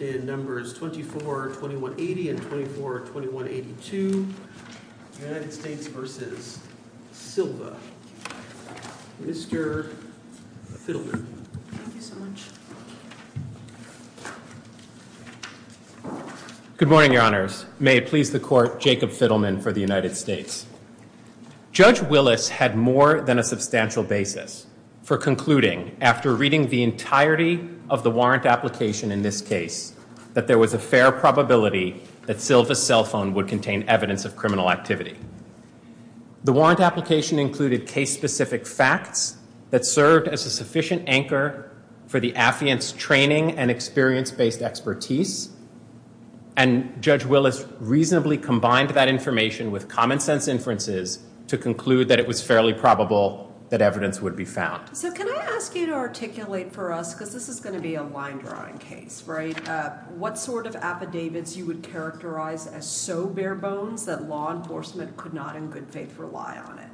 in numbers 24, 2180 and 24, 2182. United States v. Silva. Mr. Fiddleman. Thank you so much. Good morning, your honors. May it please the court, Jacob Fiddleman for the United States. Judge Willis had more than a substantial basis for concluding after reading the entirety of the warrant application in this case that there was a fair probability that Silva's cell phone would contain evidence of criminal activity. The warrant application included case-specific facts that served as a sufficient anchor for the affiant's training and experience based expertise. And Judge Willis reasonably combined that information with common sense inferences to conclude that it was fairly probable that evidence would be found. So can I ask you to articulate for us, because this is going to be a line drawing case, right? What sort of affidavits you would characterize as so bare bones that law enforcement could not in good faith rely on it?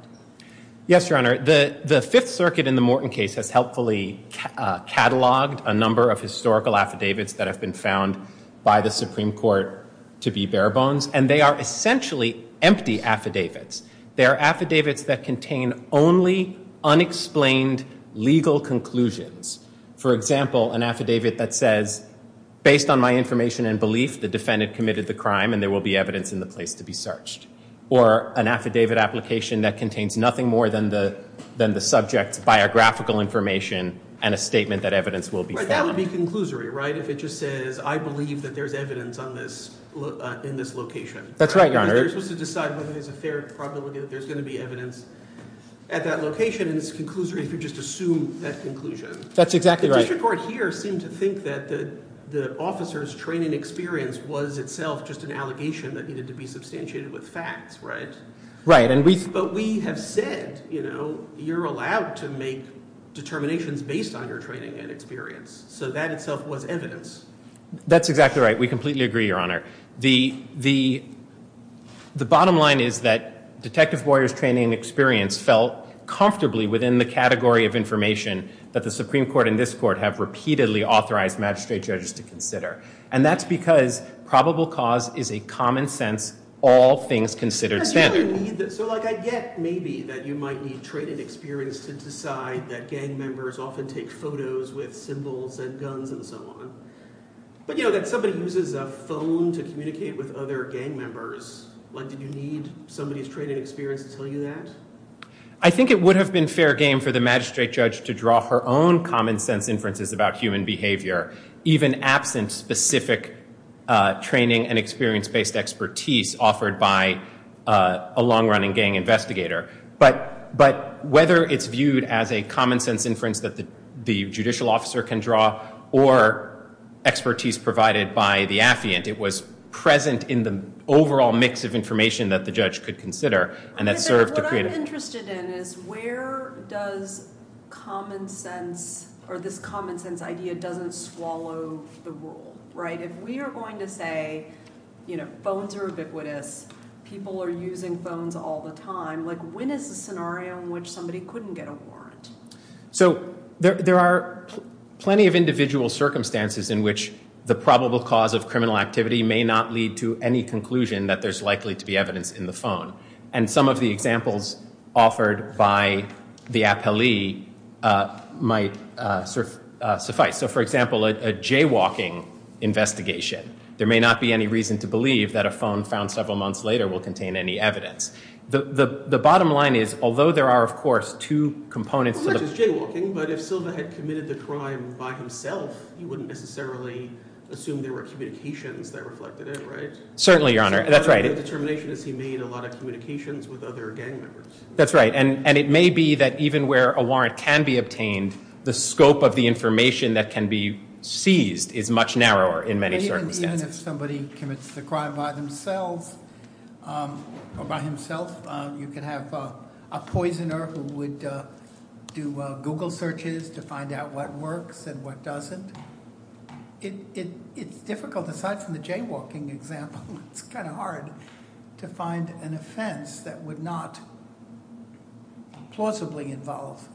Yes, your honor. The Fifth Circuit in the Morton case has helpfully cataloged a number of historical affidavits that have been found by the Supreme Court to be bare bones. And they are essentially empty affidavits. They are affidavits that contain only unexplained legal conclusions. For example, an affidavit that says, based on my information and belief, the defendant committed the crime and there will be evidence in the place to be searched. Or an affidavit application that contains nothing more than the subject's biographical information and a statement that evidence will be found. That would be conclusory, right? If it just says, I believe that there's evidence in this location. That's right, your honor. You're supposed to decide whether there's a fair probability that there's going to be evidence at that location. And it's conclusory if you just assume that conclusion. That's exactly right. The district court here seemed to think that the officer's training experience was itself just an allegation that needed to be substantiated with facts, right? Right. But we have said, you know, you're allowed to make determinations based on your training and experience. So that itself was evidence. That's exactly right. We completely agree, your honor. The bottom line is that Detective Boyer's training experience fell comfortably within the category of information that the Supreme Court and this court have repeatedly authorized magistrate judges to consider. And that's because probable cause is a common sense, all things considered standard. So like I get maybe that you might need training experience to decide that gang members often take photos with symbols and guns and so on. But you know, that somebody uses a phone to communicate with other gang members. Like, did you need somebody's training experience to tell you that? I think it would have been fair game for the magistrate judge to draw her own common sense inferences about human behavior, even absent specific training and experience-based expertise offered by a long-running gang investigator. But whether it's viewed as a common sense inference that the judicial officer can draw or expertise provided by the affiant, it was present in the overall mix of information that the judge could consider. And that served to create- What I'm interested in is where does common sense or this common sense idea doesn't swallow the rule, right? If we are going to say, you know, phones are ubiquitous, people are using phones all the time, like when is the scenario in which somebody couldn't get a warrant? So there are plenty of individual circumstances in which the probable cause of criminal activity may not lead to any conclusion that there's likely to be evidence in the phone. And some of the examples offered by the appellee might suffice. So for example, a jaywalking investigation. There may not be any reason to believe that a phone found several months later will contain any evidence. The bottom line is, although there are of course two components- As much as jaywalking, but if Silva had committed the crime by himself, he wouldn't necessarily assume there were communications that reflected it, right? Certainly, Your Honor. That's right. The determination is he made a lot of communications with other gang members. That's right. And it may be that even where a warrant can be obtained, the scope of the information that can be seized is much narrower in many circumstances. Even if somebody commits the crime by themselves, or by himself, you can have a poisoner who would do Google searches to find out what works and what doesn't. It's difficult, aside from the jaywalking example, it's kind of hard to find an offense that would not plausibly involve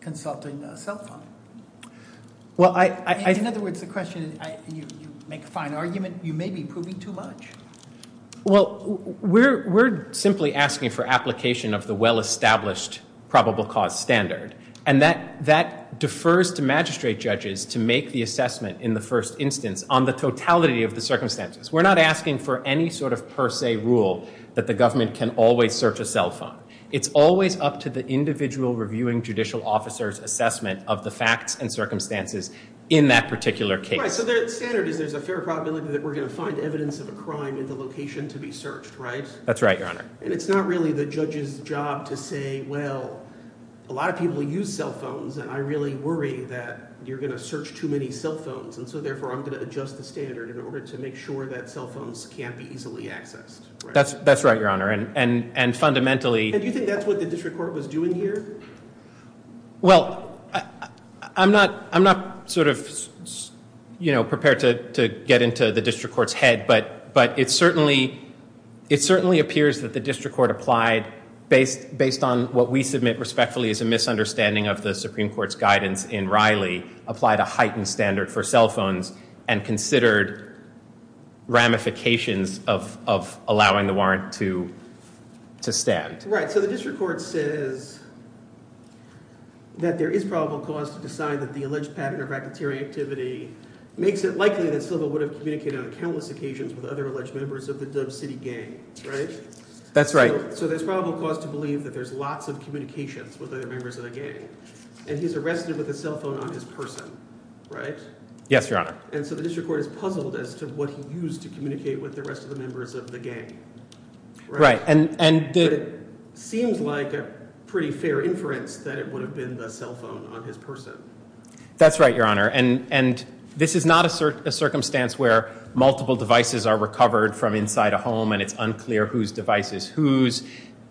consulting a cell phone. Well, I- In other words, the question, and you make a fine argument, you may be proving too much. Well, we're simply asking for application of the well-established probable cause standard, and that defers to magistrate judges to make the assessment in the first instance on the totality of the circumstances. We're not asking for any sort of per se rule that the government can always search a cell phone. It's always up to the individual reviewing judicial officer's assessment of the facts and circumstances in that particular case. So the standard is there's a fair probability that we're going to find evidence of a crime in the location to be searched, right? That's right, Your Honor. And it's not really the judge's job to say, well, a lot of people use cell phones, and I really worry that you're going to search too many cell phones. And so therefore, I'm going to adjust the standard in order to make sure that cell phones can't be easily accessed. That's right, Your Honor. And fundamentally- And do you think that's what the district court was doing here? Well, I'm not prepared to get into the district court's head, but it certainly appears that the district court applied, based on what we submit respectfully as a misunderstanding of the Supreme Court's guidance in Riley, applied a heightened standard for cell phones and considered ramifications of allowing the warrant to stand. Right. So the district court says that there is probable cause to decide that the alleged pattern of racketeering activity makes it likely that Silva would have communicated on countless occasions with other alleged members of the Dub City gang, right? That's right. So there's probable cause to believe that there's lots of communications with other members of the gang. And he's arrested with a cell phone on his person, right? Yes, Your Honor. And so the district court is puzzled as to what he used to communicate with the rest of the members of the gang, right? And it seems like a pretty fair inference that it would have been the cell phone on his person. That's right, Your Honor. And this is not a circumstance where multiple devices are recovered from inside a home and it's unclear whose device is whose.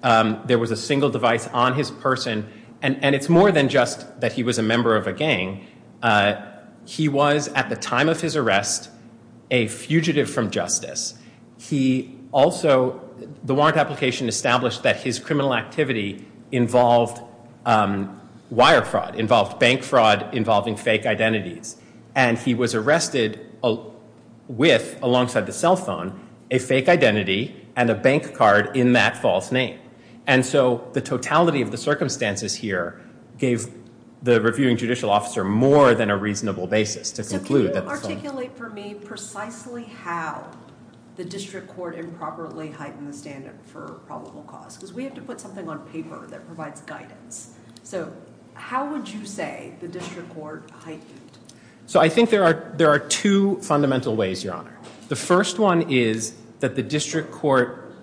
There was a single device on his person. And it's more than just that he was a member of a gang. He was, at the application, established that his criminal activity involved wire fraud, involved bank fraud involving fake identities. And he was arrested with, alongside the cell phone, a fake identity and a bank card in that false name. And so the totality of the circumstances here gave the reviewing judicial officer more than a reasonable basis to conclude that the the district court improperly heightened the standard for probable cause. Because we have to put something on paper that provides guidance. So how would you say the district court heightened? So I think there are two fundamental ways, Your Honor. The first one is that the district court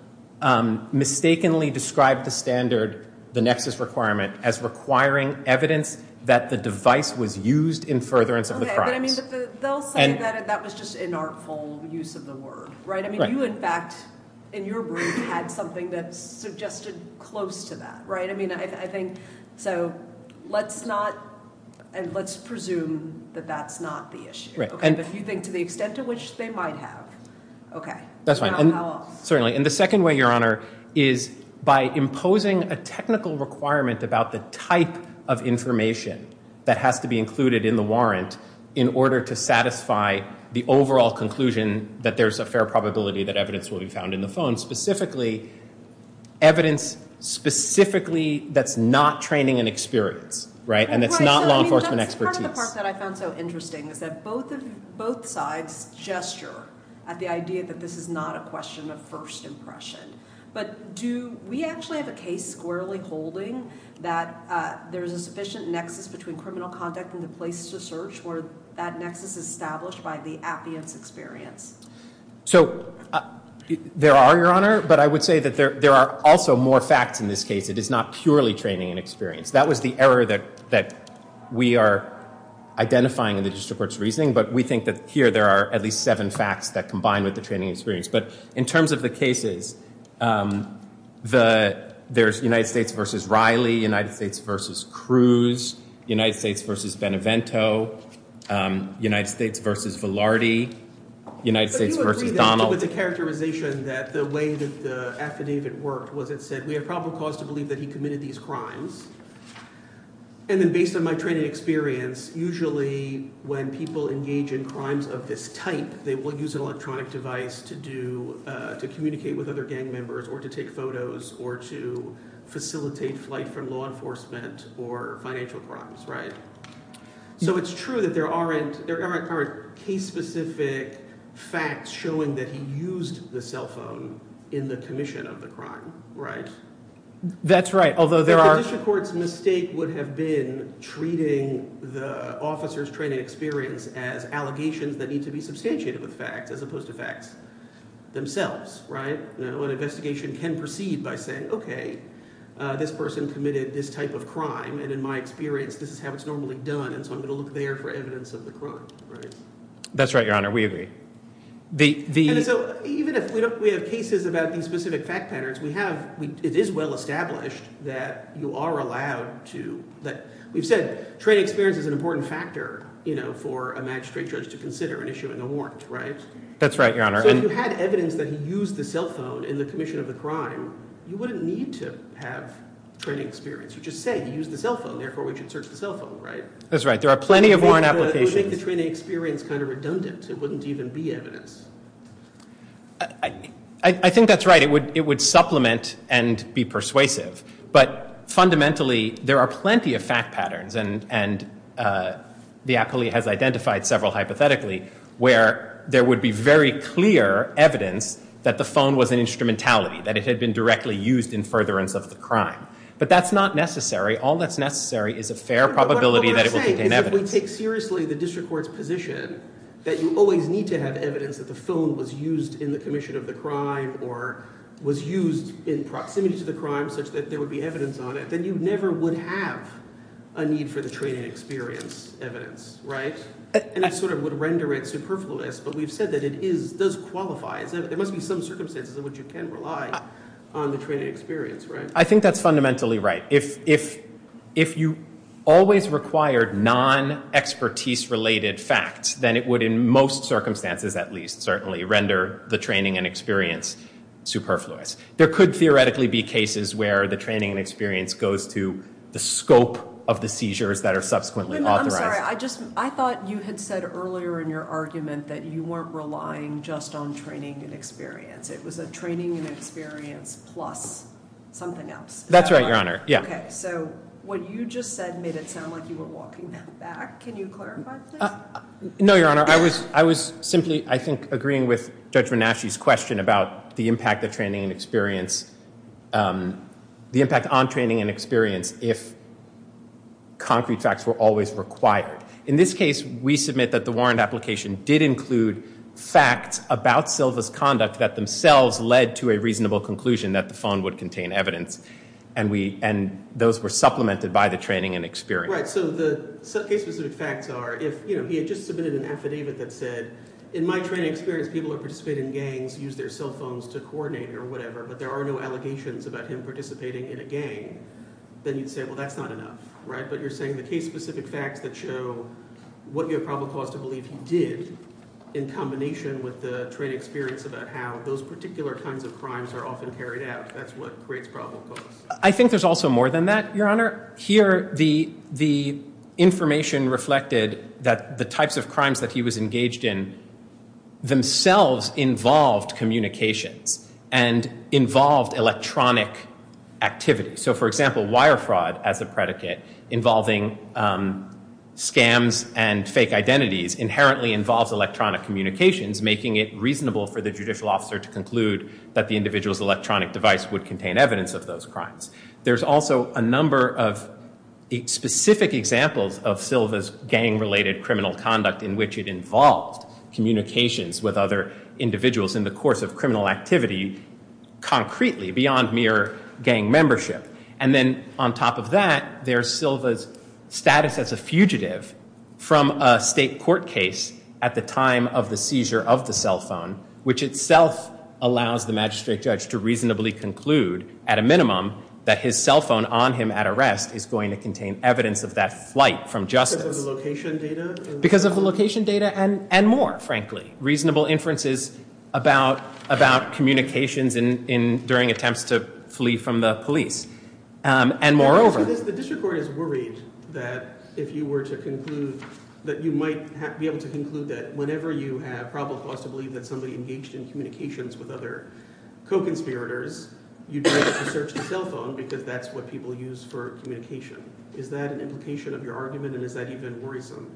mistakenly described the standard, the nexus requirement, as requiring evidence that the device was used in furtherance of the crimes. They'll say that that was just an artful use of the word, right? I mean, you, in fact, in your brief, had something that suggested close to that, right? I mean, I think, so let's not, and let's presume that that's not the issue, okay? But if you think to the extent to which they might have, okay. That's fine. Certainly. And the second way, Your Honor, is by imposing a technical requirement about the type of information that has to be included in a warrant in order to satisfy the overall conclusion that there's a fair probability that evidence will be found in the phone. Specifically, evidence specifically that's not training and experience, right? And that's not law enforcement expertise. Part of the part that I found so interesting is that both sides gesture at the idea that this is not a question of first impression. But do we actually have a case squarely holding that there's a sufficient nexus between criminal conduct and the place to search, or that nexus is established by the appearance experience? So there are, Your Honor. But I would say that there are also more facts in this case. It is not purely training and experience. That was the error that we are identifying in the district court's reasoning. But we think that here there are at least seven facts that combine with the In terms of the cases, there's United States v. Riley, United States v. Cruz, United States v. Benevento, United States v. Velarde, United States v. Donald. But do you agree that with the characterization that the way that the affidavit worked was it said, we have probable cause to believe that he committed these crimes. And then based on my training experience, usually when people engage in crimes of this type, they will use electronic device to communicate with other gang members or to take photos or to facilitate flight from law enforcement or financial crimes, right? So it's true that there aren't case specific facts showing that he used the cell phone in the commission of the crime, right? That's right. Although there are... The condition court's mistake would have been treating the officer's training experience as allegations that need to be substantiated with facts as opposed to facts themselves, right? An investigation can proceed by saying, okay, this person committed this type of crime. And in my experience, this is how it's normally done. And so I'm going to look there for evidence of the crime, right? That's right, Your Honor. We agree. And so even if we don't, we have cases about these specific fact patterns, we have, it is well established that you are allowed to, that we've said training experience is an important factor for a magistrate judge to consider in issuing a warrant, right? That's right, Your Honor. So if you had evidence that he used the cell phone in the commission of the crime, you wouldn't need to have training experience. You just said he used the cell phone, therefore we should search the cell phone, right? That's right. There are plenty of warrant applications. It would make the training experience kind of redundant. It wouldn't even be evidence. I think that's right. It would supplement and be persuasive. But fundamentally, there are plenty of fact patterns, and the acolyte has identified several hypothetically, where there would be very clear evidence that the phone was an instrumentality, that it had been directly used in furtherance of the crime. But that's not necessary. All that's necessary is a fair probability that it will contain evidence. What I'm saying is if we take seriously the district court's position that you always need to have evidence that the phone was used in the commission of the crime or was used in proximity to the crime such that there would be evidence on it, then you never would have a need for the training experience evidence, right? And it sort of would render it superfluous. But we've said that it does qualify. There must be some circumstances in which you can rely on the training experience, right? I think that's fundamentally right. If you always required non-expertise-related facts, then it would, in most circumstances at least, certainly, render the training and experience superfluous. There could theoretically be cases where the training and experience goes to the scope of the seizures that are subsequently authorized. Wait a minute. I'm sorry. I thought you had said earlier in your argument that you weren't relying just on training and experience. It was a training and experience plus something else. That's right, Your Honor. Yeah. OK. So what you just said made it sound like you were walking that back. Can you clarify that? No, Your Honor. I was simply, I think, agreeing with Judge Venasci's question about the impact on training and experience if concrete facts were always required. In this case, we submit that the warrant application did include facts about Silva's conduct that themselves led to a reasonable conclusion that the phone would contain evidence. And those were supplemented by the training and experience. Right. So the case-specific facts are if he had just submitted an affidavit that said, in my training experience, people who participate in gangs use their cell phones to coordinate or whatever, but there are no allegations about him participating in a gang, then you'd say, well, that's not enough, right? But you're saying the case-specific facts that show what you have probable cause to believe he did in combination with the training experience about how those particular kinds of crimes are often carried out, that's what creates probable cause. I think there's also more than that, Your Honor. Here, the information reflected that the types of crimes that he was engaged in themselves involved communications and involved electronic activity. So, for example, wire fraud as a predicate involving scams and fake identities inherently involves electronic communications, making it reasonable for the judicial officer to conclude that the individual's electronic device would contain evidence of those crimes. There's also a number of specific examples of Silva's gang-related criminal conduct in which it involved communications with other individuals in the course of criminal activity concretely, beyond mere gang membership. And then, on top of that, there's Silva's status as a fugitive from a state court case at the time of the seizure of the cell phone, which itself allows the magistrate judge to reasonably conclude, at a minimum, that his cell phone on him at arrest is going to contain evidence of that flight from justice. Because of the location data? Because of the location data and more, frankly. Reasonable inferences about communications during attempts to flee from the police. And moreover... The district court is worried that if you were to conclude, that you might be able to conclude that whenever you have probable cause to believe that somebody engaged in communications with other co-conspirators, you'd be able to search the cell phone because that's what people use for communication. Is that an implication of your argument and is that even worrisome?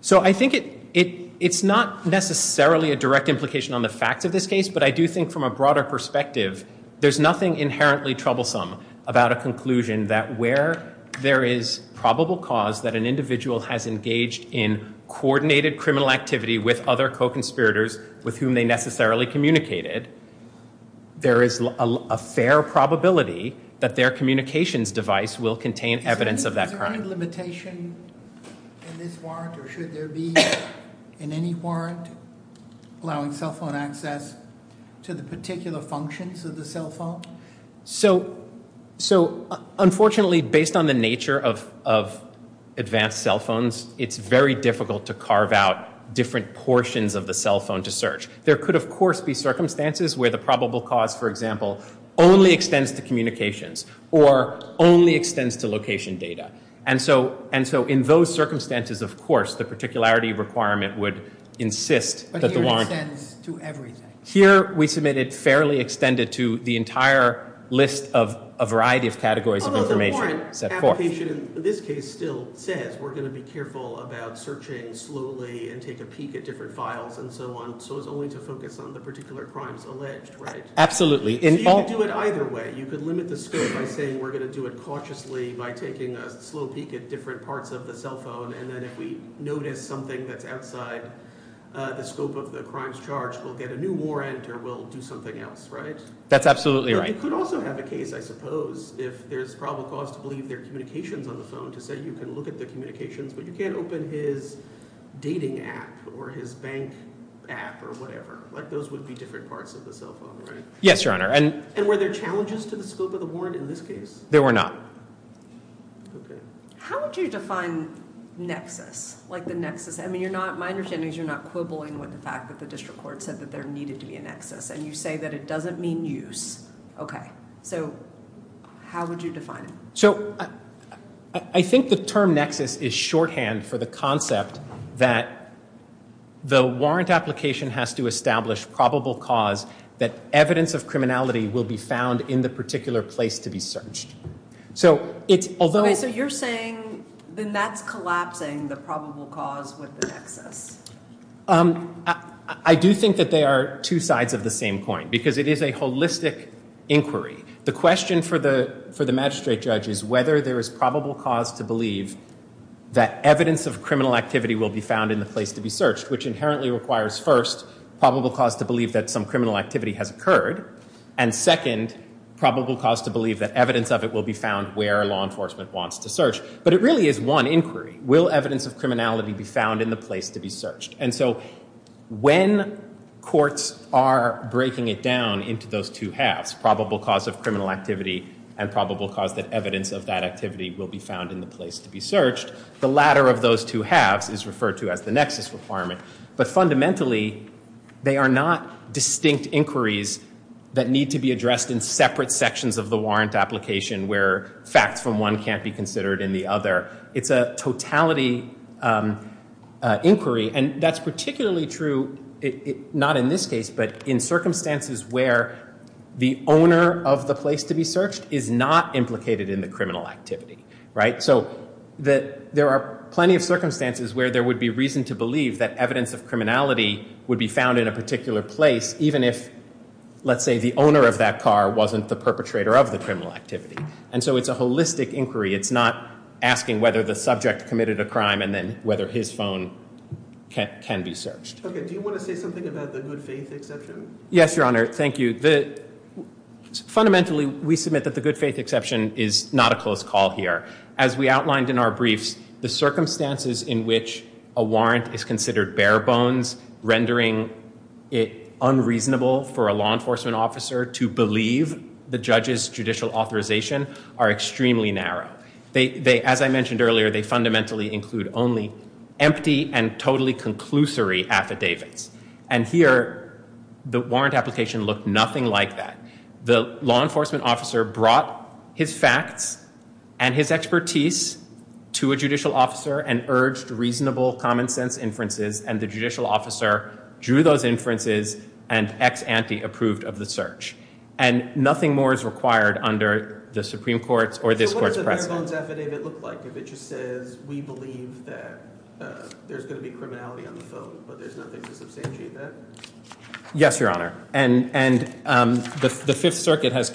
So I think it's not necessarily a direct implication on the facts of this case, but I do think from a broader perspective, there's nothing inherently troublesome about a conclusion that where there is probable cause that an individual has engaged in coordinated criminal activity with other co-conspirators with whom they necessarily communicated, there is a fair probability that their communications device will contain evidence of that crime. Is there any limitation in this warrant or should there be in any warrant allowing cell phone access to the particular functions of the cell phone? So, unfortunately, based on the nature of advanced cell phones, it's very difficult to carve out different portions of the cell phone to search. There could, of course, be circumstances where the probable cause, for example, only extends to communications or only extends to location data. And so in those circumstances, of course, the particularity requirement would insist... But here it extends to everything. Here we submit it fairly extended to the entire list of a variety of categories of information. Although the warrant application in this case still says we're going to be careful about searching slowly and take a peek at different files and so on, so as only to focus on the particular crimes alleged, right? Absolutely. So you could do it either way. You could limit the scope by saying we're going to do it cautiously by taking a slow peek at different parts of the cell phone and then if we notice something that's outside the scope of the crimes charged, we'll get a new warrant or we'll do something else, right? That's absolutely right. You could also have a case, I suppose, if there's probable cause to believe there are communications on the phone to say you can look at the communications but you can't open his dating app or his bank app or whatever. Like those would be different parts of the cell phone, right? Yes, Your Honor. And were there challenges to the scope of the warrant in this case? There were not. Okay. How would you define nexus? Like the nexus... I mean, you're not... My understanding is you're not quibbling with the fact that the district court said that there needed to be a nexus and you say that it doesn't mean use. Okay. So how would you define it? So I think the term nexus is shorthand for the concept that the warrant application has to establish probable cause that evidence of criminality will be found in the particular place to be searched. So it's... Although... So you're saying then that's collapsing the probable cause with the nexus. I do think that they are two sides of the same coin because it is a holistic inquiry. The question for the magistrate judge is whether there is probable cause to believe that evidence of criminal activity will be found in the place to be searched, which inherently requires first probable cause to believe that some criminal activity has occurred, and second probable cause to believe that evidence of it will be found where law enforcement wants to search. But it really is one inquiry. Will evidence of criminality be found in the place to be searched? And so when courts are breaking it down into those two halves, probable cause of criminal activity and probable cause that evidence of that activity will be found in the place to be searched, the latter of those two halves is referred to as the nexus requirement. But fundamentally, they are not distinct inquiries that need to be addressed in separate sections of the warrant application where facts from one can't be considered in the other. It's a totality inquiry. And that's particularly true, not in this case, but in circumstances where the owner of the place to be searched is not implicated in the criminal activity. So there are plenty of circumstances where there would be reason to believe that evidence of criminality would be found in a And so it's a holistic inquiry. It's not asking whether the subject committed a crime and then whether his phone can be searched. Okay. Do you want to say something about the good faith exception? Yes, Your Honor. Thank you. Fundamentally, we submit that the good faith exception is not a close call here. As we outlined in our briefs, the circumstances in which a warrant is considered bare bones, rendering it unreasonable for a law enforcement officer to believe the judge's judicial authorization, are extremely narrow. As I mentioned earlier, they fundamentally include only empty and totally conclusory affidavits. And here, the warrant application looked nothing like that. The law enforcement officer brought his facts and his expertise to a judicial officer and urged reasonable common sense inferences. And the judicial officer drew those inferences and ex ante approved of the search. And nothing more is required under the Supreme Court's or this Court's precedent. So what does a bare bones affidavit look like if it just says, we believe that there's going to be criminality on the phone, but there's nothing to substantiate that? Yes, Your Honor. And the Fifth Circuit has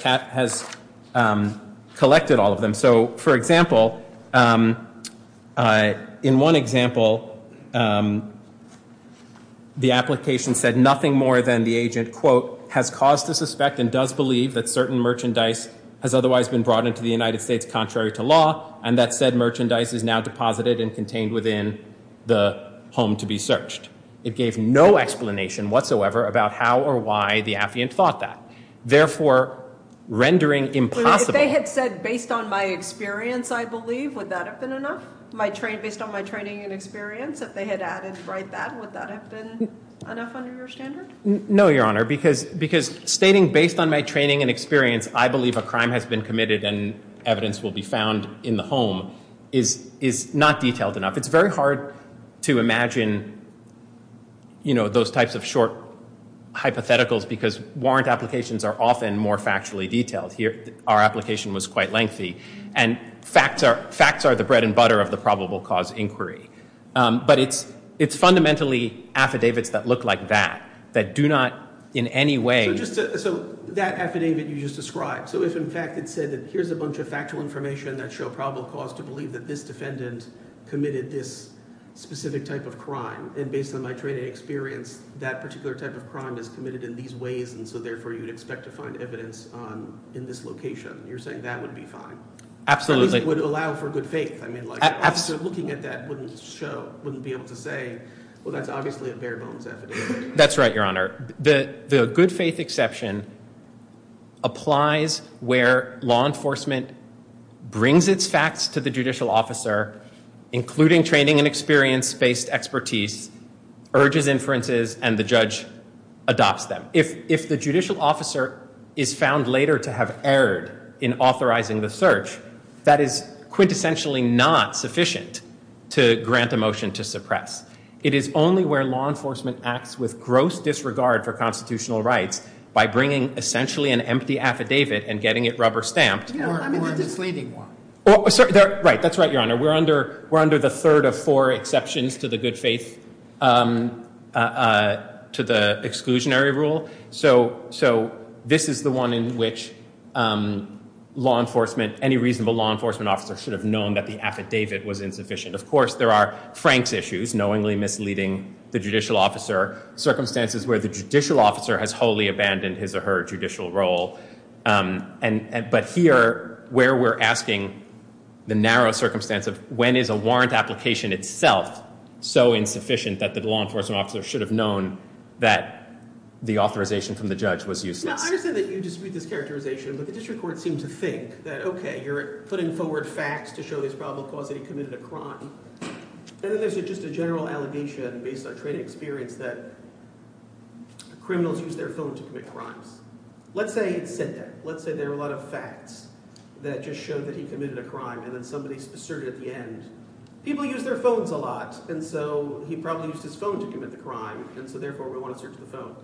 collected all of them. So for example, in one example, the application said nothing more than the agent, quote, has caused to suspect and does believe that certain merchandise has otherwise been brought into the United States contrary to law. And that said, merchandise is now deposited and contained within the home to be searched. It gave no explanation whatsoever about how or why the affiant thought that. Therefore, rendering impossible. If they had said, based on my experience, I believe, would that have been enough? Based on my training and experience, if they had added right that, would that have been enough under your standard? No, Your Honor. Because stating based on my training and experience, I believe a crime has been committed and evidence will be found in the home is not detailed enough. It's very hard to imagine those types of short hypotheticals because warrant applications are often more factually detailed. Here, our application was quite lengthy. And facts are the bread and butter of the probable cause inquiry. But it's fundamentally affidavits that look like that, that do not in any way. So that affidavit you just described. So if, in fact, it said that here's a bunch of factual information that show probable cause to believe that this defendant committed this specific type of crime. And based on my training and experience, that particular type of crime is committed in these ways. And so therefore, you would expect to find evidence in this location. You're saying that would be fine. Absolutely. Because it would allow for good faith. I mean, looking at that wouldn't show, wouldn't be able to say, well, that's obviously a bare bones affidavit. That's right, Your Honor. The good faith exception applies where law enforcement brings its facts to the judicial officer, including training and experience-based expertise, urges inferences, and the judge adopts them. If the judicial officer is found later to have erred in authorizing the search, that is quintessentially not sufficient to grant a motion to suppress. It is only where law enforcement acts with gross disregard for constitutional rights by bringing, essentially, an empty affidavit and getting it rubber stamped. I'm just explaining why. Right. That's right, Your Honor. We're under the third of four exceptions to the good faith exclusionary rule. So this is the one in which any reasonable law enforcement officer should have known that the affidavit was insufficient. Of course, there are Frank's issues, knowingly misleading the judicial officer, circumstances where the judicial officer has wholly abandoned his or her judicial role. But here, where we're asking the narrow circumstance of when is a that the authorization from the judge was useless. Now, I understand that you dispute this characterization, but the district court seemed to think that, okay, you're putting forward facts to show his probable cause that he committed a crime. And then there's just a general allegation based on training experience that criminals use their phone to commit crimes. Let's say it said that. Let's say there were a lot of facts that just showed that he committed a crime, and then somebody asserted at the end, people use their phones a lot, and so he probably used his phone to commit the crime. And so therefore, we want to search the phone.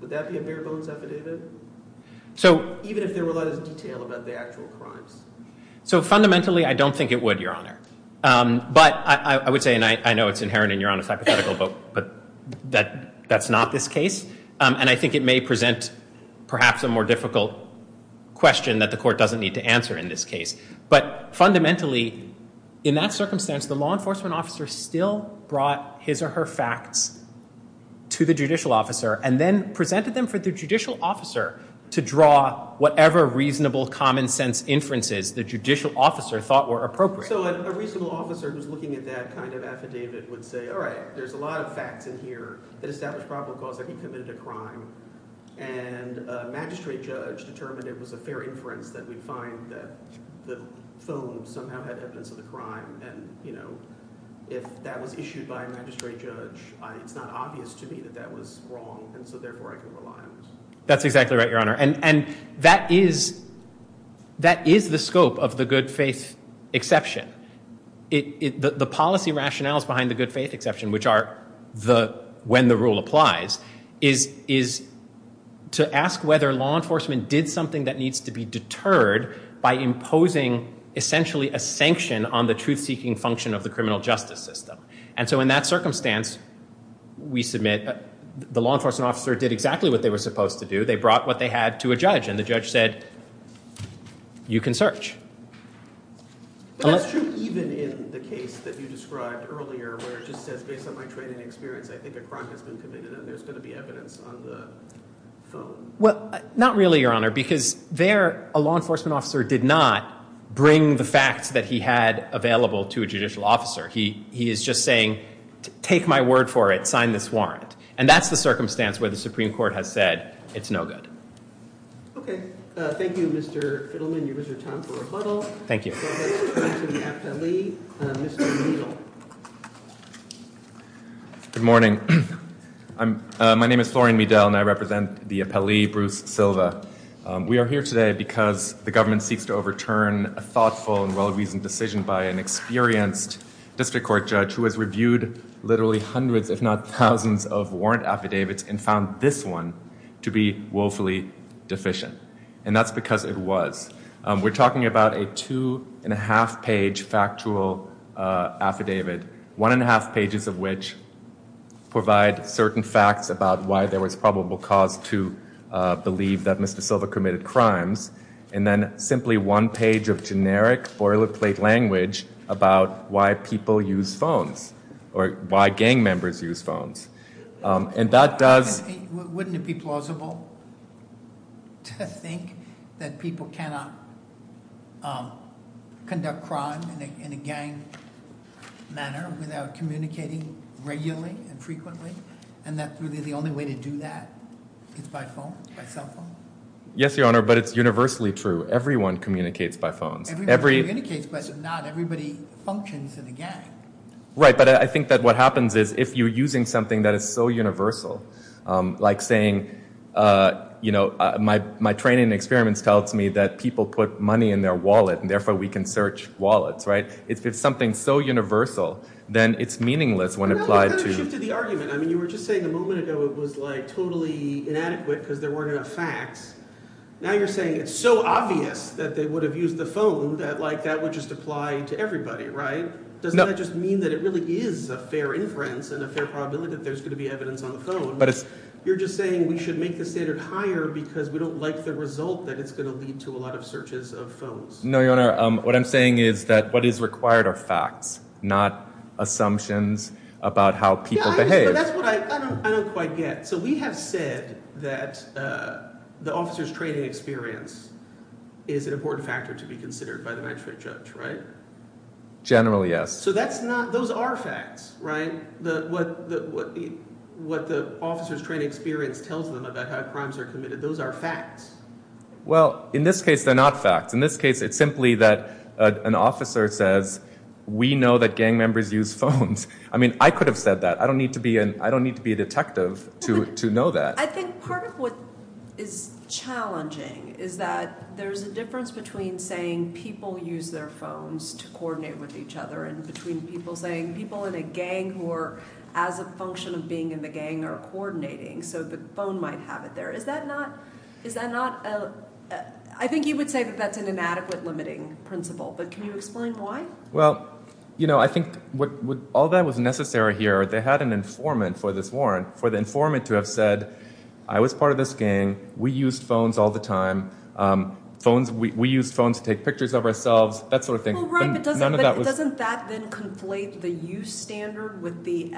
Would that be a bare bones affidavit? So even if there were a lot of detail about the actual crimes. So fundamentally, I don't think it would, Your Honor. But I would say, and I know it's inherent in Your Honor's hypothetical, but that's not this case. And I think it may present perhaps a more difficult question that the court doesn't need to answer in this case. But fundamentally, in that circumstance, the law would present their facts to the judicial officer and then presented them for the judicial officer to draw whatever reasonable common sense inferences the judicial officer thought were appropriate. So a reasonable officer who's looking at that kind of affidavit would say, all right, there's a lot of facts in here that establish probable cause that he committed a crime. And a magistrate judge determined it was a fair inference that we find that the phone somehow had evidence of the crime. And if that was issued by a magistrate judge, it's not obvious to me that that was wrong. And so therefore, I can rely on it. That's exactly right, Your Honor. And that is the scope of the good faith exception. The policy rationales behind the good faith exception, which are when the rule applies, is to ask whether law enforcement did something that needs to be deterred by imposing essentially a sanction on the truth-seeking function of the criminal justice system. And so in that circumstance, we submit the law enforcement officer did exactly what they were supposed to do. They brought what they had to a judge. And the judge said, you can search. But that's true even in the case that you described earlier, where it just says, based on my training and experience, I think a crime has been committed and there's going to be did not bring the facts that he had available to a judicial officer. He is just saying, take my word for it. Sign this warrant. And that's the circumstance where the Supreme Court has said it's no good. Okay. Thank you, Mr. Fiddleman. Your time for rebuttal. Thank you. Good morning. My name is Florian Miedel and I represent the appellee, Bruce Silva. We are here because the government seeks to overturn a thoughtful and well-reasoned decision by an experienced district court judge who has reviewed literally hundreds, if not thousands, of warrant affidavits and found this one to be woefully deficient. And that's because it was. We're talking about a two and a half page factual affidavit, one and a half pages of which provide certain facts about why there was probable cause to believe that Mr. Silva committed crimes. And then simply one page of generic boilerplate language about why people use phones or why gang members use phones. And that does... Wouldn't it be plausible to think that people cannot conduct crime in a gang manner without communicating regularly and frequently and that really the only way to do that is by phone, by cell phone? Yes, Your Honor, but it's universally true. Everyone communicates by phones. Everyone communicates, but not everybody functions in a gang. Right, but I think that what happens is if you're using something that is so universal, like saying, you know, my training and experiments tells me that people put money in their wallet and therefore we can search wallets, right? If it's something so universal, then it's meaningless when applied to... Well, you kind of shifted the argument. I mean, you were just saying a moment because there weren't enough facts. Now you're saying it's so obvious that they would have used the phone that like that would just apply to everybody, right? Doesn't that just mean that it really is a fair inference and a fair probability that there's going to be evidence on the phone? You're just saying we should make the standard higher because we don't like the result that it's going to lead to a lot of searches of phones. No, Your Honor. What I'm saying is that what is required are facts, not assumptions about how people behave. That's what I don't quite get. So we have said that the officer's training experience is an important factor to be considered by the magistrate judge, right? Generally, yes. So that's not... Those are facts, right? What the officer's training experience tells them about how crimes are committed, those are facts. Well, in this case, they're not facts. In this case, it's simply that an officer says, we know that gang members use phones. I mean, I don't need to be a detective to know that. I think part of what is challenging is that there's a difference between saying people use their phones to coordinate with each other and between people saying people in a gang who are as a function of being in the gang are coordinating, so the phone might have it there. Is that not... I think you would say that that's an inadequate limiting principle, but can you explain why? Well, I think all that was necessary here. They had an informant for this warrant. For the informant to have said, I was part of this gang, we used phones all the time. We used phones to take pictures of ourselves, that sort of thing. Well, right, but doesn't that then conflate the use standard with the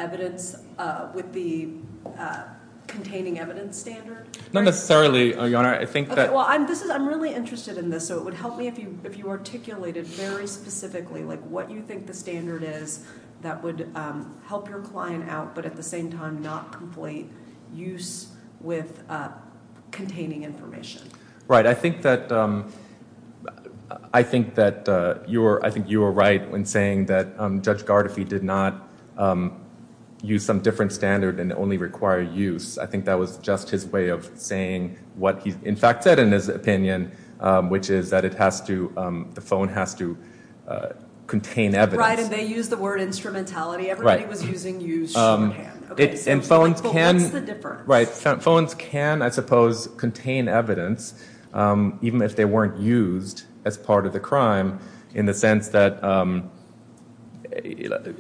containing evidence standard? Not necessarily, Your Honor. I think that... Okay, well, I'm really interested in this, so it would help me if you articulated very specifically what you think the standard is that would help your client out, but at the same time not complete use with containing information. Right, I think that you were right when saying that Judge Gardefee did not use some different standard and only require use. I think that was just his way of saying what he, in fact, said in his opinion, which is that the phone has to contain evidence. Right, and they used the word instrumentality. Everybody was using use shorthand. Right, and phones can, I suppose, contain evidence even if they weren't used as part of the crime in the sense that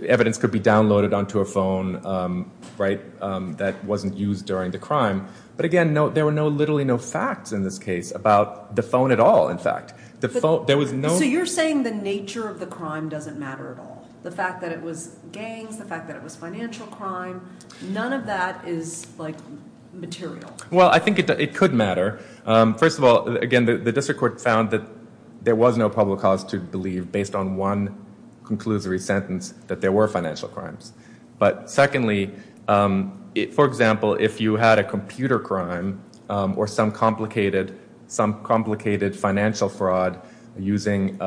evidence could be downloaded onto a phone that wasn't used during the crime, but again, there were literally no facts in this case about the phone at all, in fact. So you're saying the nature of the crime doesn't matter at all? The fact that it was gangs, the fact that it was financial crime, none of that is material? Well, I think it could matter. First of all, again, the district court found that there was no probable cause to believe, based on one conclusory sentence, that there were financial crimes, but secondly, for example, if you had a computer crime or some complicated financial fraud using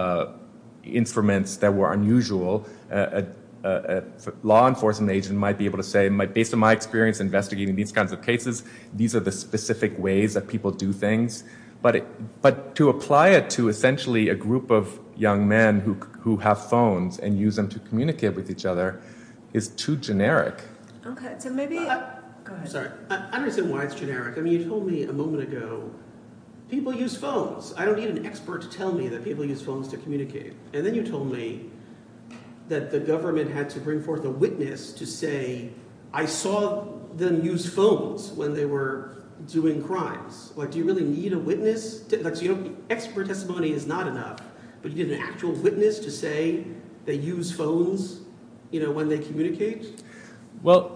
instruments that were unusual, a law enforcement agent might be able to say, based on my experience investigating these kinds of cases, these are the specific ways that people do things, but to apply it to essentially a group of young men who have phones and use them to communicate with each other is too generic. Okay, so maybe, go ahead. Sorry, I don't understand why it's generic. I mean, you told me a moment ago, people use phones. I don't need an expert to tell me that people use phones to communicate, and then you told me that the government had to bring forth a witness to say, I saw them use phones when they were doing crimes. Do you really need a witness? Expert testimony is not enough, but you need an actual witness to say they use phones when they communicate? Well,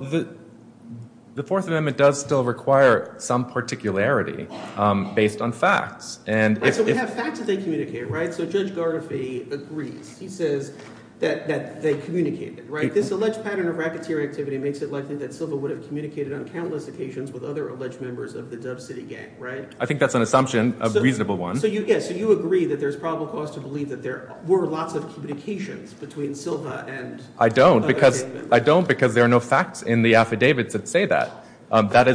the Fourth Amendment does still require some particularity based on facts. Right, so we have facts that they communicate, right? So Judge Garnafay agrees. He says that they communicated, right? This alleged pattern of racketeering activity makes it likely that Silva would have communicated on countless occasions with other alleged members of the Dove City gang, right? I think that's an assumption, a reasonable one. So you agree that there's probable cause to believe that there were lots of communications between Silva and... I don't, because there are no facts in the affidavits that say that. That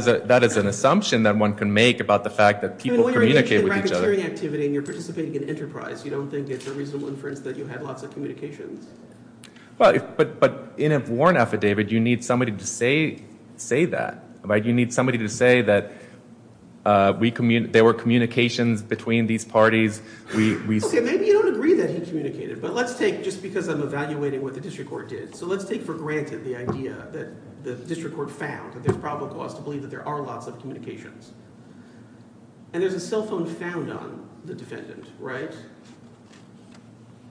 is an assumption that one can make about the fact that people communicate with each other. When you're engaged in racketeering activity and you're participating in enterprise, you don't think it's a reasonable inference that you had lots of communications? Well, but in a warrant affidavit, you need somebody to say that, right? You need somebody to say that there were communications between these parties. Okay, maybe you don't agree that he communicated, but let's take, just because I'm evaluating what the district court did, so let's take for granted the idea that the district court found that there's probable cause to believe that there are lots of communications. And there's a cell phone found on the defendant, right?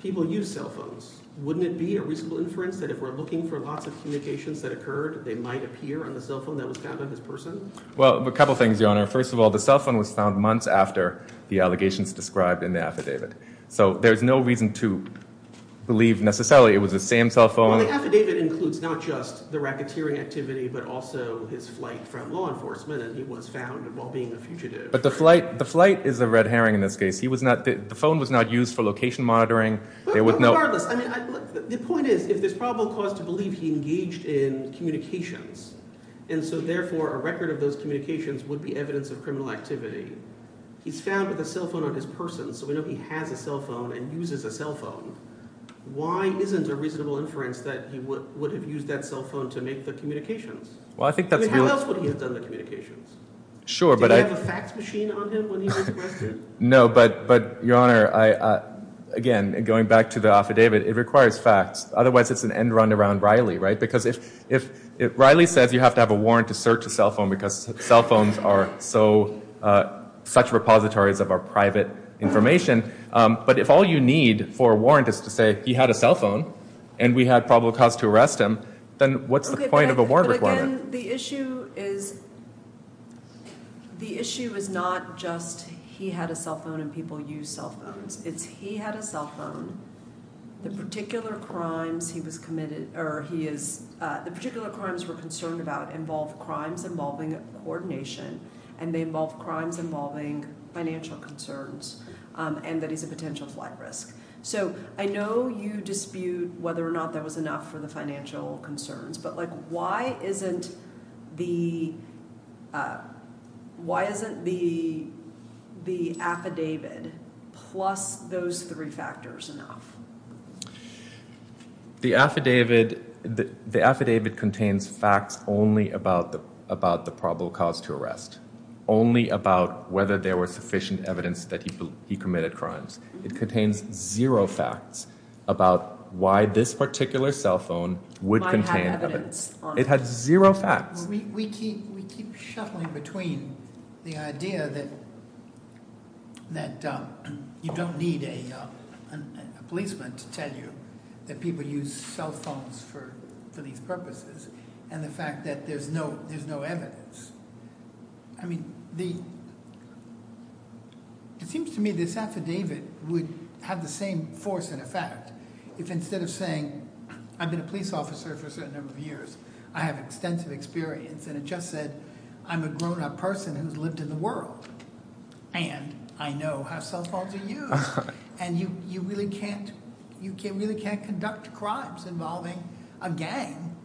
People use cell phones. Wouldn't it be a reasonable inference that if we're looking for lots of communications that occurred, they might appear on the cell phone that was found on this person? Well, a couple of things, Your Honor. First of all, the cell phone was found months after the allegations described in the affidavit. So there's no reason to believe necessarily it was the same cell phone. Well, the affidavit includes not just the racketeering activity, but also his flight from law enforcement and he was found while being a fugitive. But the flight, the flight is the red herring in this case. He was not, the phone was not used for location monitoring. Well, regardless, I mean, the point is, if there's probable cause to believe he engaged in communications, and so therefore a record of those communications would be evidence of criminal activity. He's found with a cell phone on his person, so we know he has a cell phone and uses a cell phone. Why isn't a reasonable inference that he would have used that cell phone to make the communications? Well, I think that's... I mean, how else would he have done the communications? Sure, but I... Did he have a fax machine on him when he was arrested? No, but Your Honor, again, going back to the affidavit, it requires facts. Otherwise, it's an end run around Riley, right? Because if Riley says you have to have a warrant to search a cell phone because cell phones are so, such repositories of our private information, but if all you need for a warrant is to say he had a cell phone and we had probable cause to arrest him, then what's the point of a warrant requirement? Okay, but again, the issue is, the issue is not just he had a cell phone and people use cell phones. It's he had a cell phone, the particular crimes he was committed, or he is... The particular crimes we're concerned about involve crimes involving coordination and they involve crimes involving financial concerns and that he's a potential flight risk. So I know you dispute whether or not that was enough for the financial concerns, but why isn't the affidavit plus those three factors enough? The affidavit contains facts only about the probable cause to arrest, only about whether there was sufficient evidence that he committed crimes. It contains zero facts about why this cell phone would contain evidence. It has zero facts. We keep shuffling between the idea that you don't need a policeman to tell you that people use cell phones for these purposes and the fact that there's no evidence. I mean, it seems to me this affidavit would have the same force and effect if instead of saying, I've been a police officer for a certain number of years, I have extensive experience and it just said, I'm a grown up person who's lived in the world and I know how cell phones are used. And you really can't conduct crimes involving a gang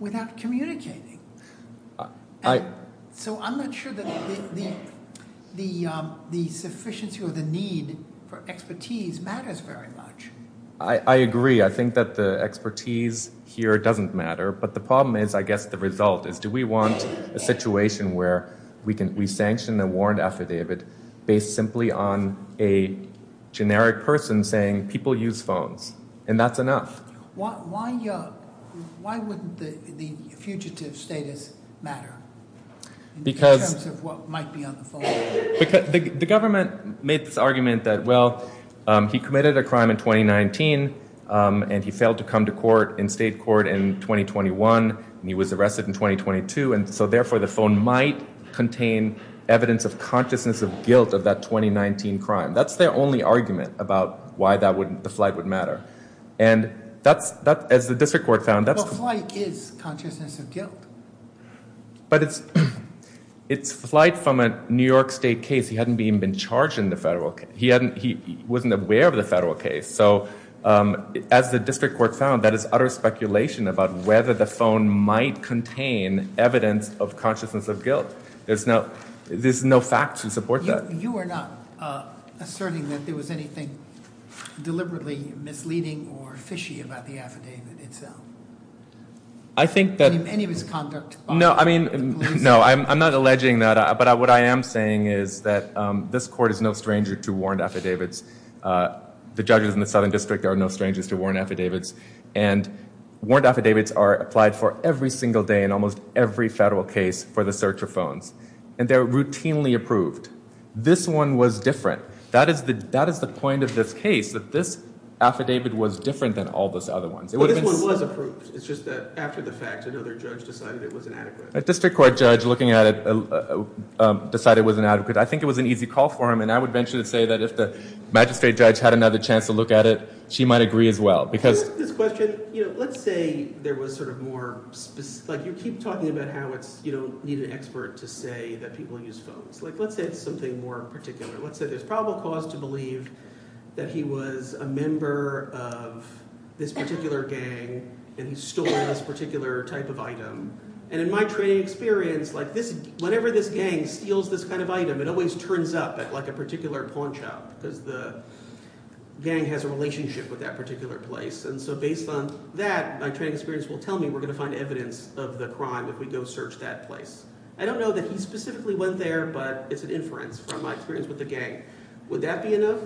without communicating. So I'm not sure that the sufficiency or the need for expertise matters very much. I agree. I think that the expertise here doesn't matter, but the problem is, I guess, the result is do we want a situation where we sanction a warrant affidavit based simply on a generic person saying people use phones and that's enough? Why wouldn't the fugitive status matter in terms of what might be on the phone? The government made this argument that, well, he committed a crime in 2019 and he failed to come to court in state court in 2021 and he was arrested in 2022 and so therefore the phone might contain evidence of consciousness of guilt of that 2019 crime. That's their only argument about why the flight would matter. And as the district court found- Well, flight is consciousness of guilt. But it's flight from a New York state case. He hadn't even been charged in the federal case. He wasn't aware of the federal case. So as the district court found, that is utter speculation about whether the phone might contain evidence of consciousness of guilt. There's no fact to support that. You are not asserting that there was anything deliberately misleading or fishy about the affidavit itself? I think that- Any misconduct by the police? No, I'm not alleging that, but what I am saying is that this court is no stranger to warrant affidavits. The judges in the Southern District are no strangers to warrant affidavits and warrant affidavits are applied for every single day in almost every federal case for the search of phones and they're routinely approved. This one was different. That is the point of this case, that this affidavit was different than all those other ones. Well, this one was approved. It's just that after the fact, another judge decided it was inadequate. A district court judge looking at it decided it was inadequate. I think it was an easy call for him and I would venture to say that if the magistrate judge had another chance to look at it, she might agree as well because- This question, let's say there was sort of more- You keep talking about how you don't need an expert to say that people use phones. Let's say it's something more particular. Let's say there's probable cause to believe that he was a member of this particular gang and he stole this particular type of item and in my training experience, whenever this gang steals this kind of item, it always turns up at a particular pawn shop because the gang has a relationship with that particular place and so based on that, my training experience will tell me we're going to find evidence of the crime if we go search that place. I don't know that he specifically went there but it's an inference from my experience with the gang. Would that be enough?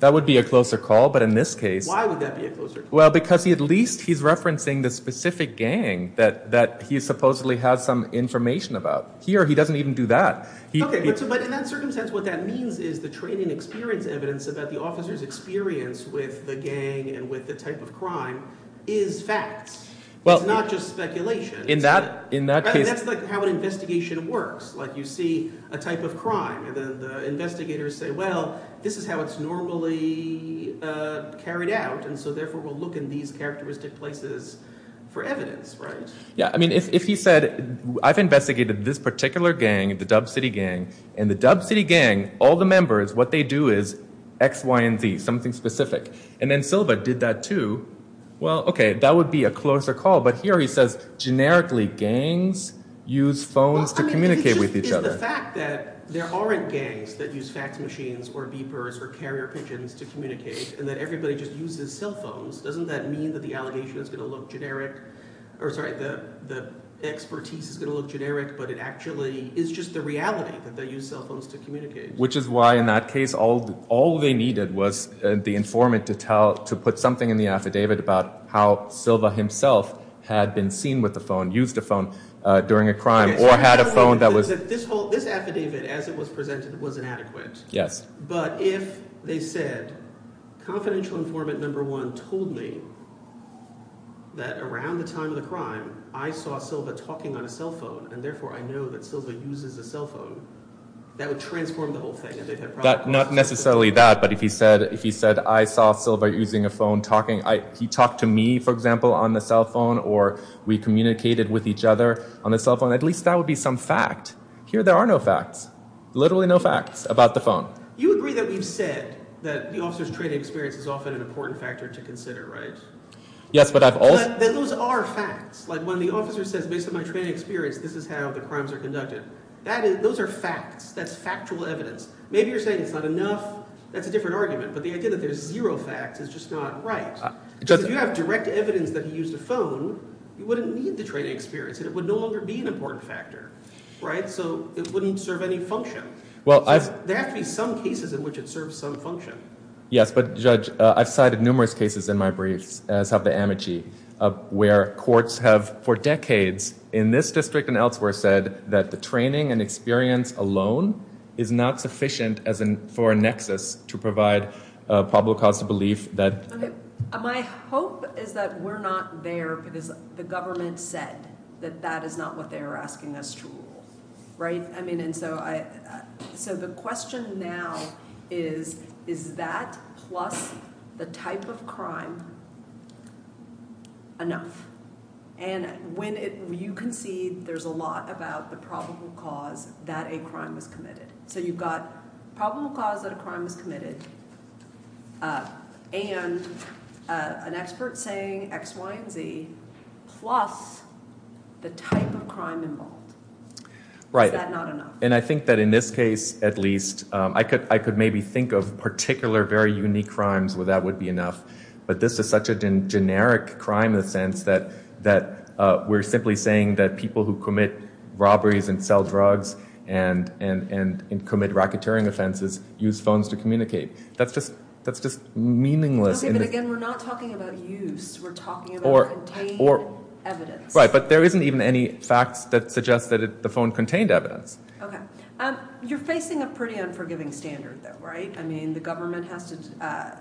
That would be a closer call but in this case- Why would that be a closer call? Well, because at least he's referencing the specific gang that he supposedly has some information about. Here, he doesn't even do that. Okay, but in that circumstance, what that means is the training experience evidence about the officer's experience with the gang and with the type of crime is facts. Well- It's not just speculation. In that case- That's how an investigation works. You see a type of crime and then the investigators say, well, this is how it's normally carried out and so therefore, we'll look in these characteristic places for evidence, right? Yeah, I mean, if he said, I've investigated this particular gang, the Dub City gang, and the Dub City gang, all the members, what they do is X, Y, and Z, something specific. And then Silva did that too. Well, okay, that would be a closer call but here he says, generically, gangs use phones to communicate with each other. The fact that there aren't gangs that use fax machines or beepers or carrier pigeons to communicate and that everybody just uses cell phones, doesn't that mean that the allegation is going to look generic? Or sorry, the expertise is going to look generic but it's just the reality that they use cell phones to communicate. Which is why in that case, all they needed was the informant to put something in the affidavit about how Silva himself had been seen with a phone, used a phone during a crime or had a phone that was- This affidavit, as it was presented, was inadequate. Yes. But if they said, confidential informant number one told me that around the time of the crime, I saw Silva talking on a cell phone and therefore I know that Silva uses a cell phone, that would transform the whole thing. Not necessarily that, but if he said, I saw Silva using a phone talking, he talked to me, for example, on the cell phone or we communicated with each other on the cell phone, at least that would be some fact. Here there are no facts. Literally no facts about the phone. You agree that we've said that the officer's training experience is often an important factor to consider, right? Yes, but I've also- Then those are facts. When the officer says, based on my training experience, this is how the crimes are conducted. Those are facts. That's factual evidence. Maybe you're saying it's not enough. That's a different argument. But the idea that there's zero facts is just not right. Because if you have direct evidence that he used a phone, you wouldn't need the training experience and it would no longer be an important factor, right? So it wouldn't serve any function. There have to be some cases in which it serves some function. Yes, but Judge, I've cited numerous cases in my briefs, as have the amici, where courts have for decades in this district and elsewhere said that the training and experience alone is not sufficient for a nexus to provide probable cause to belief that- My hope is that we're not there because the government said that that is not what they believe. Is that plus the type of crime enough? And when you concede, there's a lot about the probable cause that a crime was committed. So you've got probable cause that a crime was committed and an expert saying X, Y, and Z plus the type of crime involved. Is that not enough? I think that in this case, at least, I could maybe think of particular, very unique crimes where that would be enough. But this is such a generic crime in the sense that we're simply saying that people who commit robberies and sell drugs and commit racketeering offenses use phones to communicate. That's just meaningless. Okay, but again, we're not talking about use. We're talking about contained evidence. Right, but there isn't even any facts that suggest that the phone contained evidence. Okay. You're facing a pretty unforgiving standard though, right? I mean, the government has to-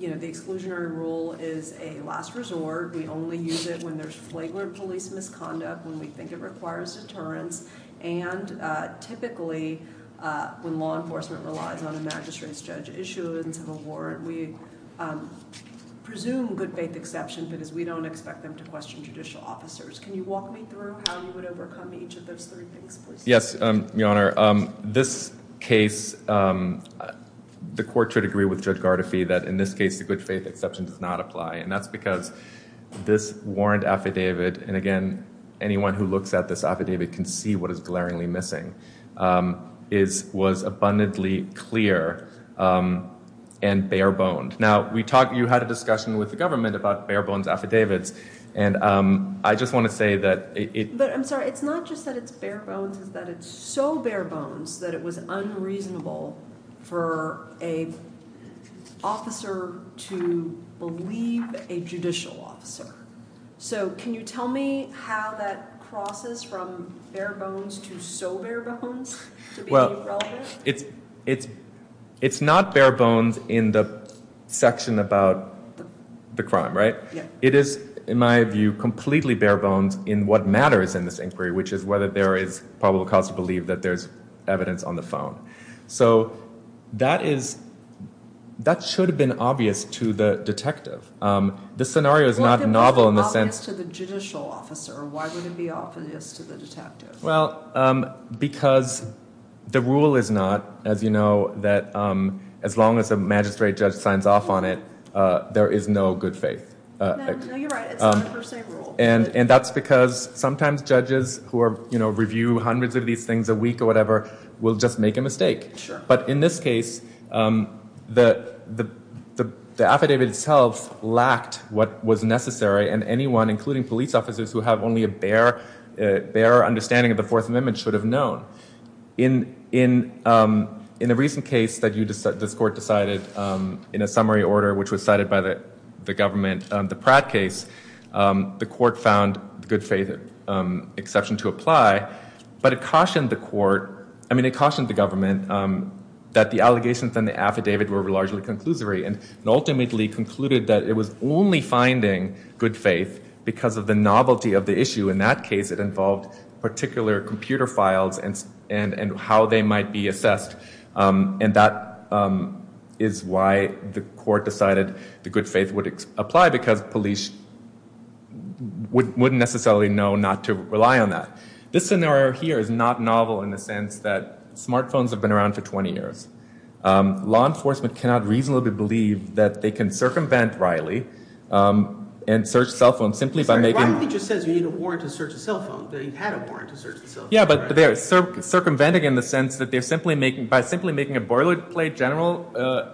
the exclusionary rule is a last resort. We only use it when there's flagrant police misconduct, when we think it requires deterrence. And typically, when law enforcement relies on a magistrate's judge issuance of a warrant, we presume good faith exception because we don't expect them to question judicial officers. Can you walk me through how you would overcome each of those three things, please? Yes, Your Honor. This case, the court should agree with Judge Gardefee that in this case, the good faith exception does not apply. And that's because this warrant affidavit, and again, anyone who looks at this affidavit can see what is glaringly missing, was abundantly clear and bare-boned. Now, you had a discussion with the government about bare-bones affidavits, and I just want to say that- I'm sorry, it's not just that it's bare-bones, it's that it's so bare-bones that it was unreasonable for an officer to believe a judicial officer. So, can you tell me how that crosses from bare-bones to so bare-bones to be relevant? Well, it's not bare-bones in the section about the crime, right? It is, in my view, completely bare-bones in what matters in this inquiry, which is whether there is probable cause to believe that there's evidence on the phone. So, that should have been obvious to the detective. The scenario is not novel in the sense- Why would it be obvious to the judicial officer? Why would it be obvious to the detective? Well, because the rule is not, as you know, that as long as a magistrate judge signs off on it, there is no good faith. No, you're right. It's not a per se rule. And that's because sometimes judges who review hundreds of these things a week or whatever will just make a mistake. But in this case, the affidavit itself lacked what was necessary, and anyone, including police officers who have only a bare understanding of the Fourth Amendment should have known. In the recent case that this court decided in a summary order, which was cited by the government, the Pratt case, the court found good faith exception to apply, but it cautioned the government that the allegations in the affidavit were largely conclusory and ultimately concluded that it was only finding good faith because of the novelty of the issue. In that case, it involved particular computer files and how they might be assessed. And that is why the court decided the good faith would apply, because police wouldn't necessarily know not to rely on that. This scenario here is not novel in the sense that smartphones have been around for 20 years. Law enforcement cannot reasonably believe that they can circumvent Riley and search cell phones simply by making... Riley just says you need a warrant to search a cell phone. That you had a warrant to search the cell phone. Yeah, but they're circumventing in the sense that they're simply making, by simply making a boilerplate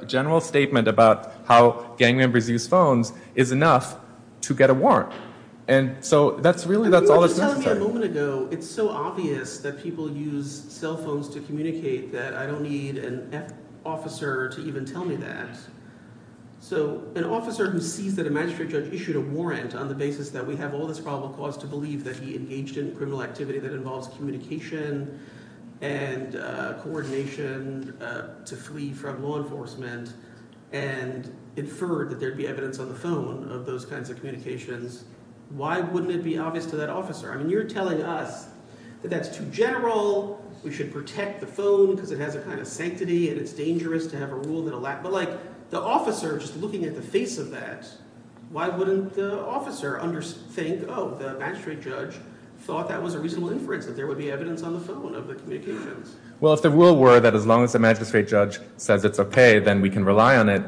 general statement about how gang members use phones is enough to get a warrant. And so that's really, that's all that's necessary. You were just telling me a moment ago, it's so obvious that people use cell phones to communicate that I don't need an F officer to even tell me that. So an officer who sees that a magistrate judge issued a warrant on the basis that we have all this probable cause to believe that he engaged in criminal activity that involves communication and coordination to flee from law enforcement and inferred that there'd be evidence on the phone of those kinds of communications, why wouldn't it be obvious to that officer? I mean, you're telling us that that's too general, we should protect the phone because it has a kind of sanctity and it's dangerous to have a rule that allows... But like the officer just looking at the face of that, why wouldn't the officer think, oh, the magistrate judge thought that was a reasonable inference that there would be evidence on the phone of the communications? Well, if the rule were that as long as the magistrate judge says it's okay, then we can rely on it,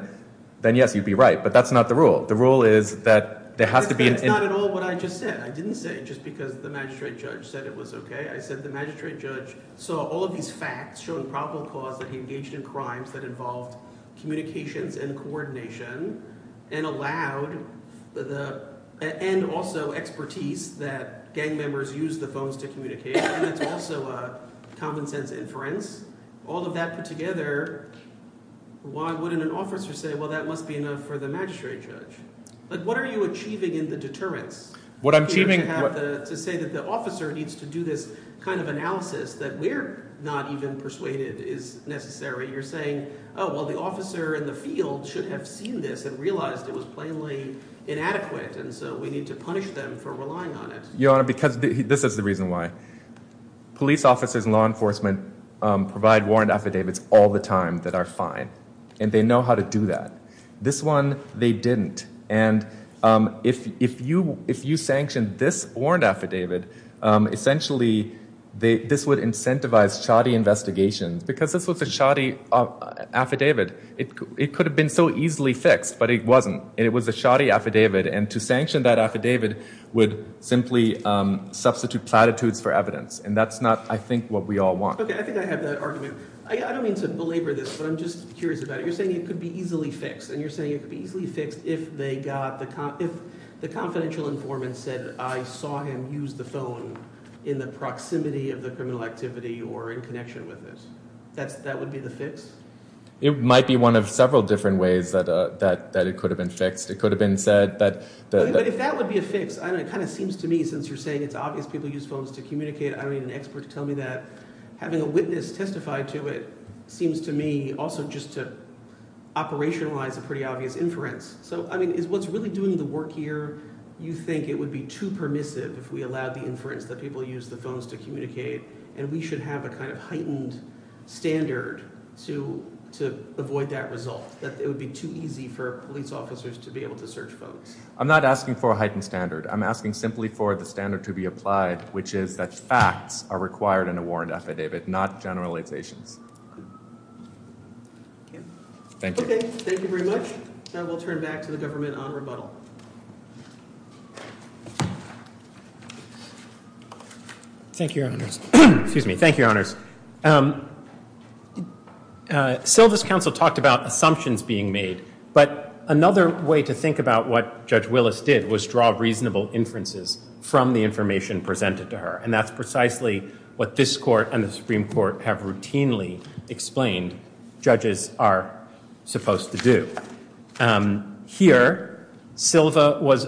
then yes, you'd be right. But that's not the rule. The rule is that there has to be... It's not at all what I just said. I didn't say it just because the magistrate judge said it was okay. I said the magistrate judge saw all of these facts showing probable cause that he engaged in crimes that involved communications and coordination and allowed the... And also expertise that gang members use the phones to communicate, and it's also a common sense inference. All of that put together, why wouldn't an officer say, well, that must be enough for the magistrate judge? What are you achieving in the deterrence? What I'm achieving... To say that the officer needs to do this kind of analysis that we're not even persuaded is necessary. You're saying, oh, well, the officer in the field should have seen this and realized it was plainly inadequate, and so we need to punish them for relying on it. Your Honor, because this is the reason why. Police officers and law enforcement provide warrant affidavits all the time that are fine, and they know how to do that. This one, they didn't. And if you sanctioned this warrant affidavit, essentially, this would incentivize shoddy investigations. Because this was a shoddy affidavit, it could have been so easily fixed, but it wasn't. And it was a shoddy affidavit, and to sanction that affidavit would simply substitute platitudes for evidence. And that's not, I think, what we all want. Okay. I think I have that argument. I don't mean to belabor this, but I'm just curious about it. You're saying it could be easily fixed, and you're saying it could be easily fixed if the confidential informant said, I saw him use the phone in the proximity of the criminal activity or in connection with it. That would be the fix? It might be one of several different ways that it could have been fixed. It could have been said that- But if that would be a fix, it kind of seems to me, since you're saying it's obvious people use phones to communicate, I don't need an expert to tell me that. Having a witness testify to it seems to me also just to operationalize a pretty obvious inference. So, I mean, is what's really doing the work here, you think it would be too permissive if we allowed the inference that people use the phones to communicate, and we should have a kind of heightened standard to avoid that result? That it would be too easy for police officers to be able to search phones? I'm not asking for a heightened standard. I'm asking simply for the standard to be applied, which is that facts are required in a warrant affidavit, not generalizations. Okay. Thank you. Okay. Thank you very much. Now we'll turn back to the government on rebuttal. Thank you, Your Honors. Excuse me. Thank you, Your Honors. Silva's counsel talked about assumptions being made, but another way to think about what Judge Willis did was draw reasonable inferences from the information presented to her, and that's precisely what this Court and the Supreme Court have routinely explained judges are supposed to do. Here, Silva was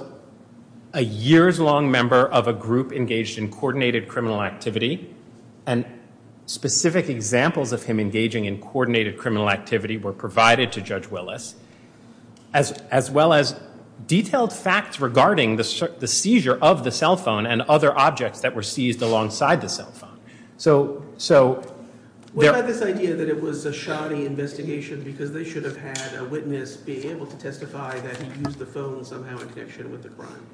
a years-long member of a group engaged in coordinated criminal activity, and specific examples of him engaging in coordinated criminal activity were provided to Judge Willis, as well as detailed facts regarding the seizure of the cell phone and other objects that were seized alongside the cell phone. So, there— What about this idea that it was a shoddy investigation because they should have had a witness be able to testify that he used the phone somehow in connection with the crime?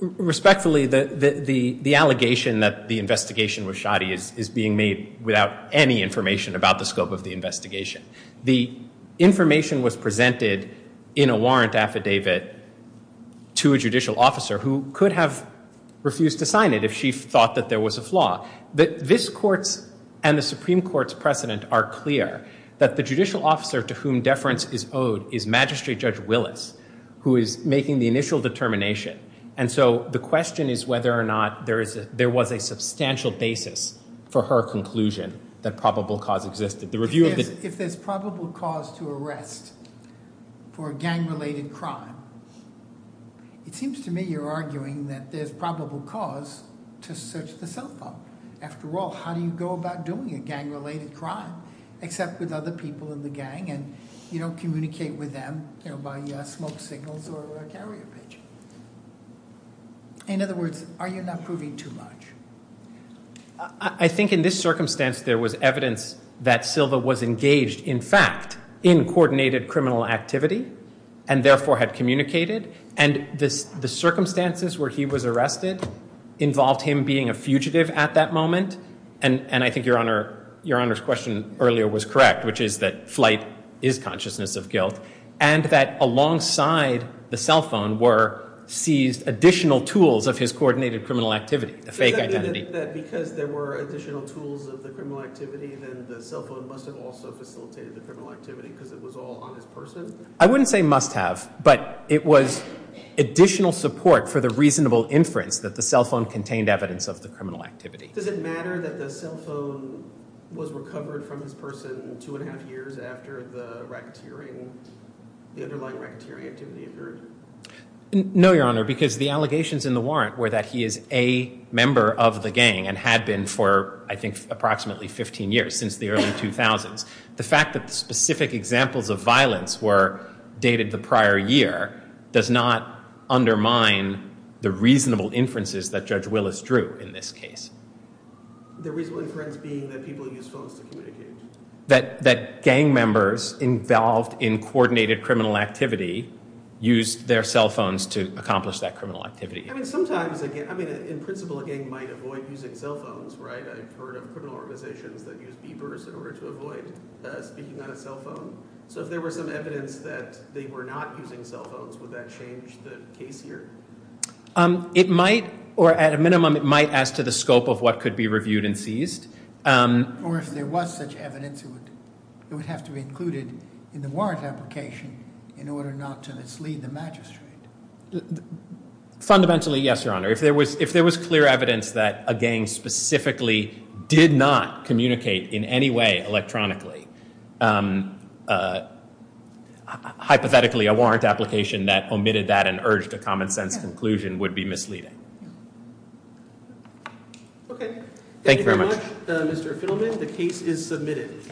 Respectfully, the allegation that the investigation was shoddy is being made without any information about the scope of the investigation. The information was presented in a warrant affidavit to a judicial officer who could have refused to sign it if she thought that was a flaw. This Court's and the Supreme Court's precedent are clear that the judicial officer to whom deference is owed is Magistrate Judge Willis, who is making the initial determination, and so the question is whether or not there was a substantial basis for her conclusion that probable cause existed. The review of the— If there's probable cause to arrest for gang-related crime, it seems to me you're arguing that there's probable cause to search the cell phone. After all, how do you go about doing a gang-related crime except with other people in the gang and you don't communicate with them, you know, by smoke signals or carrier pigeon? In other words, are you not proving too much? I think in this circumstance there was evidence that Silva was engaged, in fact, in coordinated criminal activity and therefore had communicated, and the circumstances where he was arrested involved him being a fugitive at that moment, and I think Your Honor's question earlier was correct, which is that flight is consciousness of guilt, and that alongside the cell phone were seized additional tools of his coordinated criminal activity, a fake identity. I wouldn't say must have, but it was additional support for the reasonable inference that the cell phone contained evidence of the criminal activity. Does it matter that the cell phone was recovered from this person two and a half years after the racketeering, the underlying racketeering activity occurred? No, Your Honor, because the allegations in the warrant were that he is a member of the gang and had been for, I think, approximately 15 years, since the early 2000s. The fact that the specific examples of violence were dated the prior year does not undermine the reasonable inferences that Judge Willis drew in this case. The reasonable inference being that people use phones to communicate? That gang members involved in coordinated criminal activity used their cell phones to accomplish that criminal activity? I mean, sometimes, I mean, in principle, a gang might avoid using cell phones, right? I've heard of criminal organizations that use beepers in order to avoid speaking on a cell phone, so if there were some evidence that they were not using cell phones, would that change the case here? It might, or at a minimum, it might as to the scope of what could be reviewed and seized. Or if there was such evidence, it would have to be included in the warrant application in order not to mislead the magistrate. Fundamentally, yes, Your Honor. If there was clear evidence that a gang specifically did not communicate in any way electronically, hypothetically, a warrant application that omitted that and urged a common-sense conclusion would be misleading. Okay. Thank you very much, Mr. Fiddleman. The case is submitted.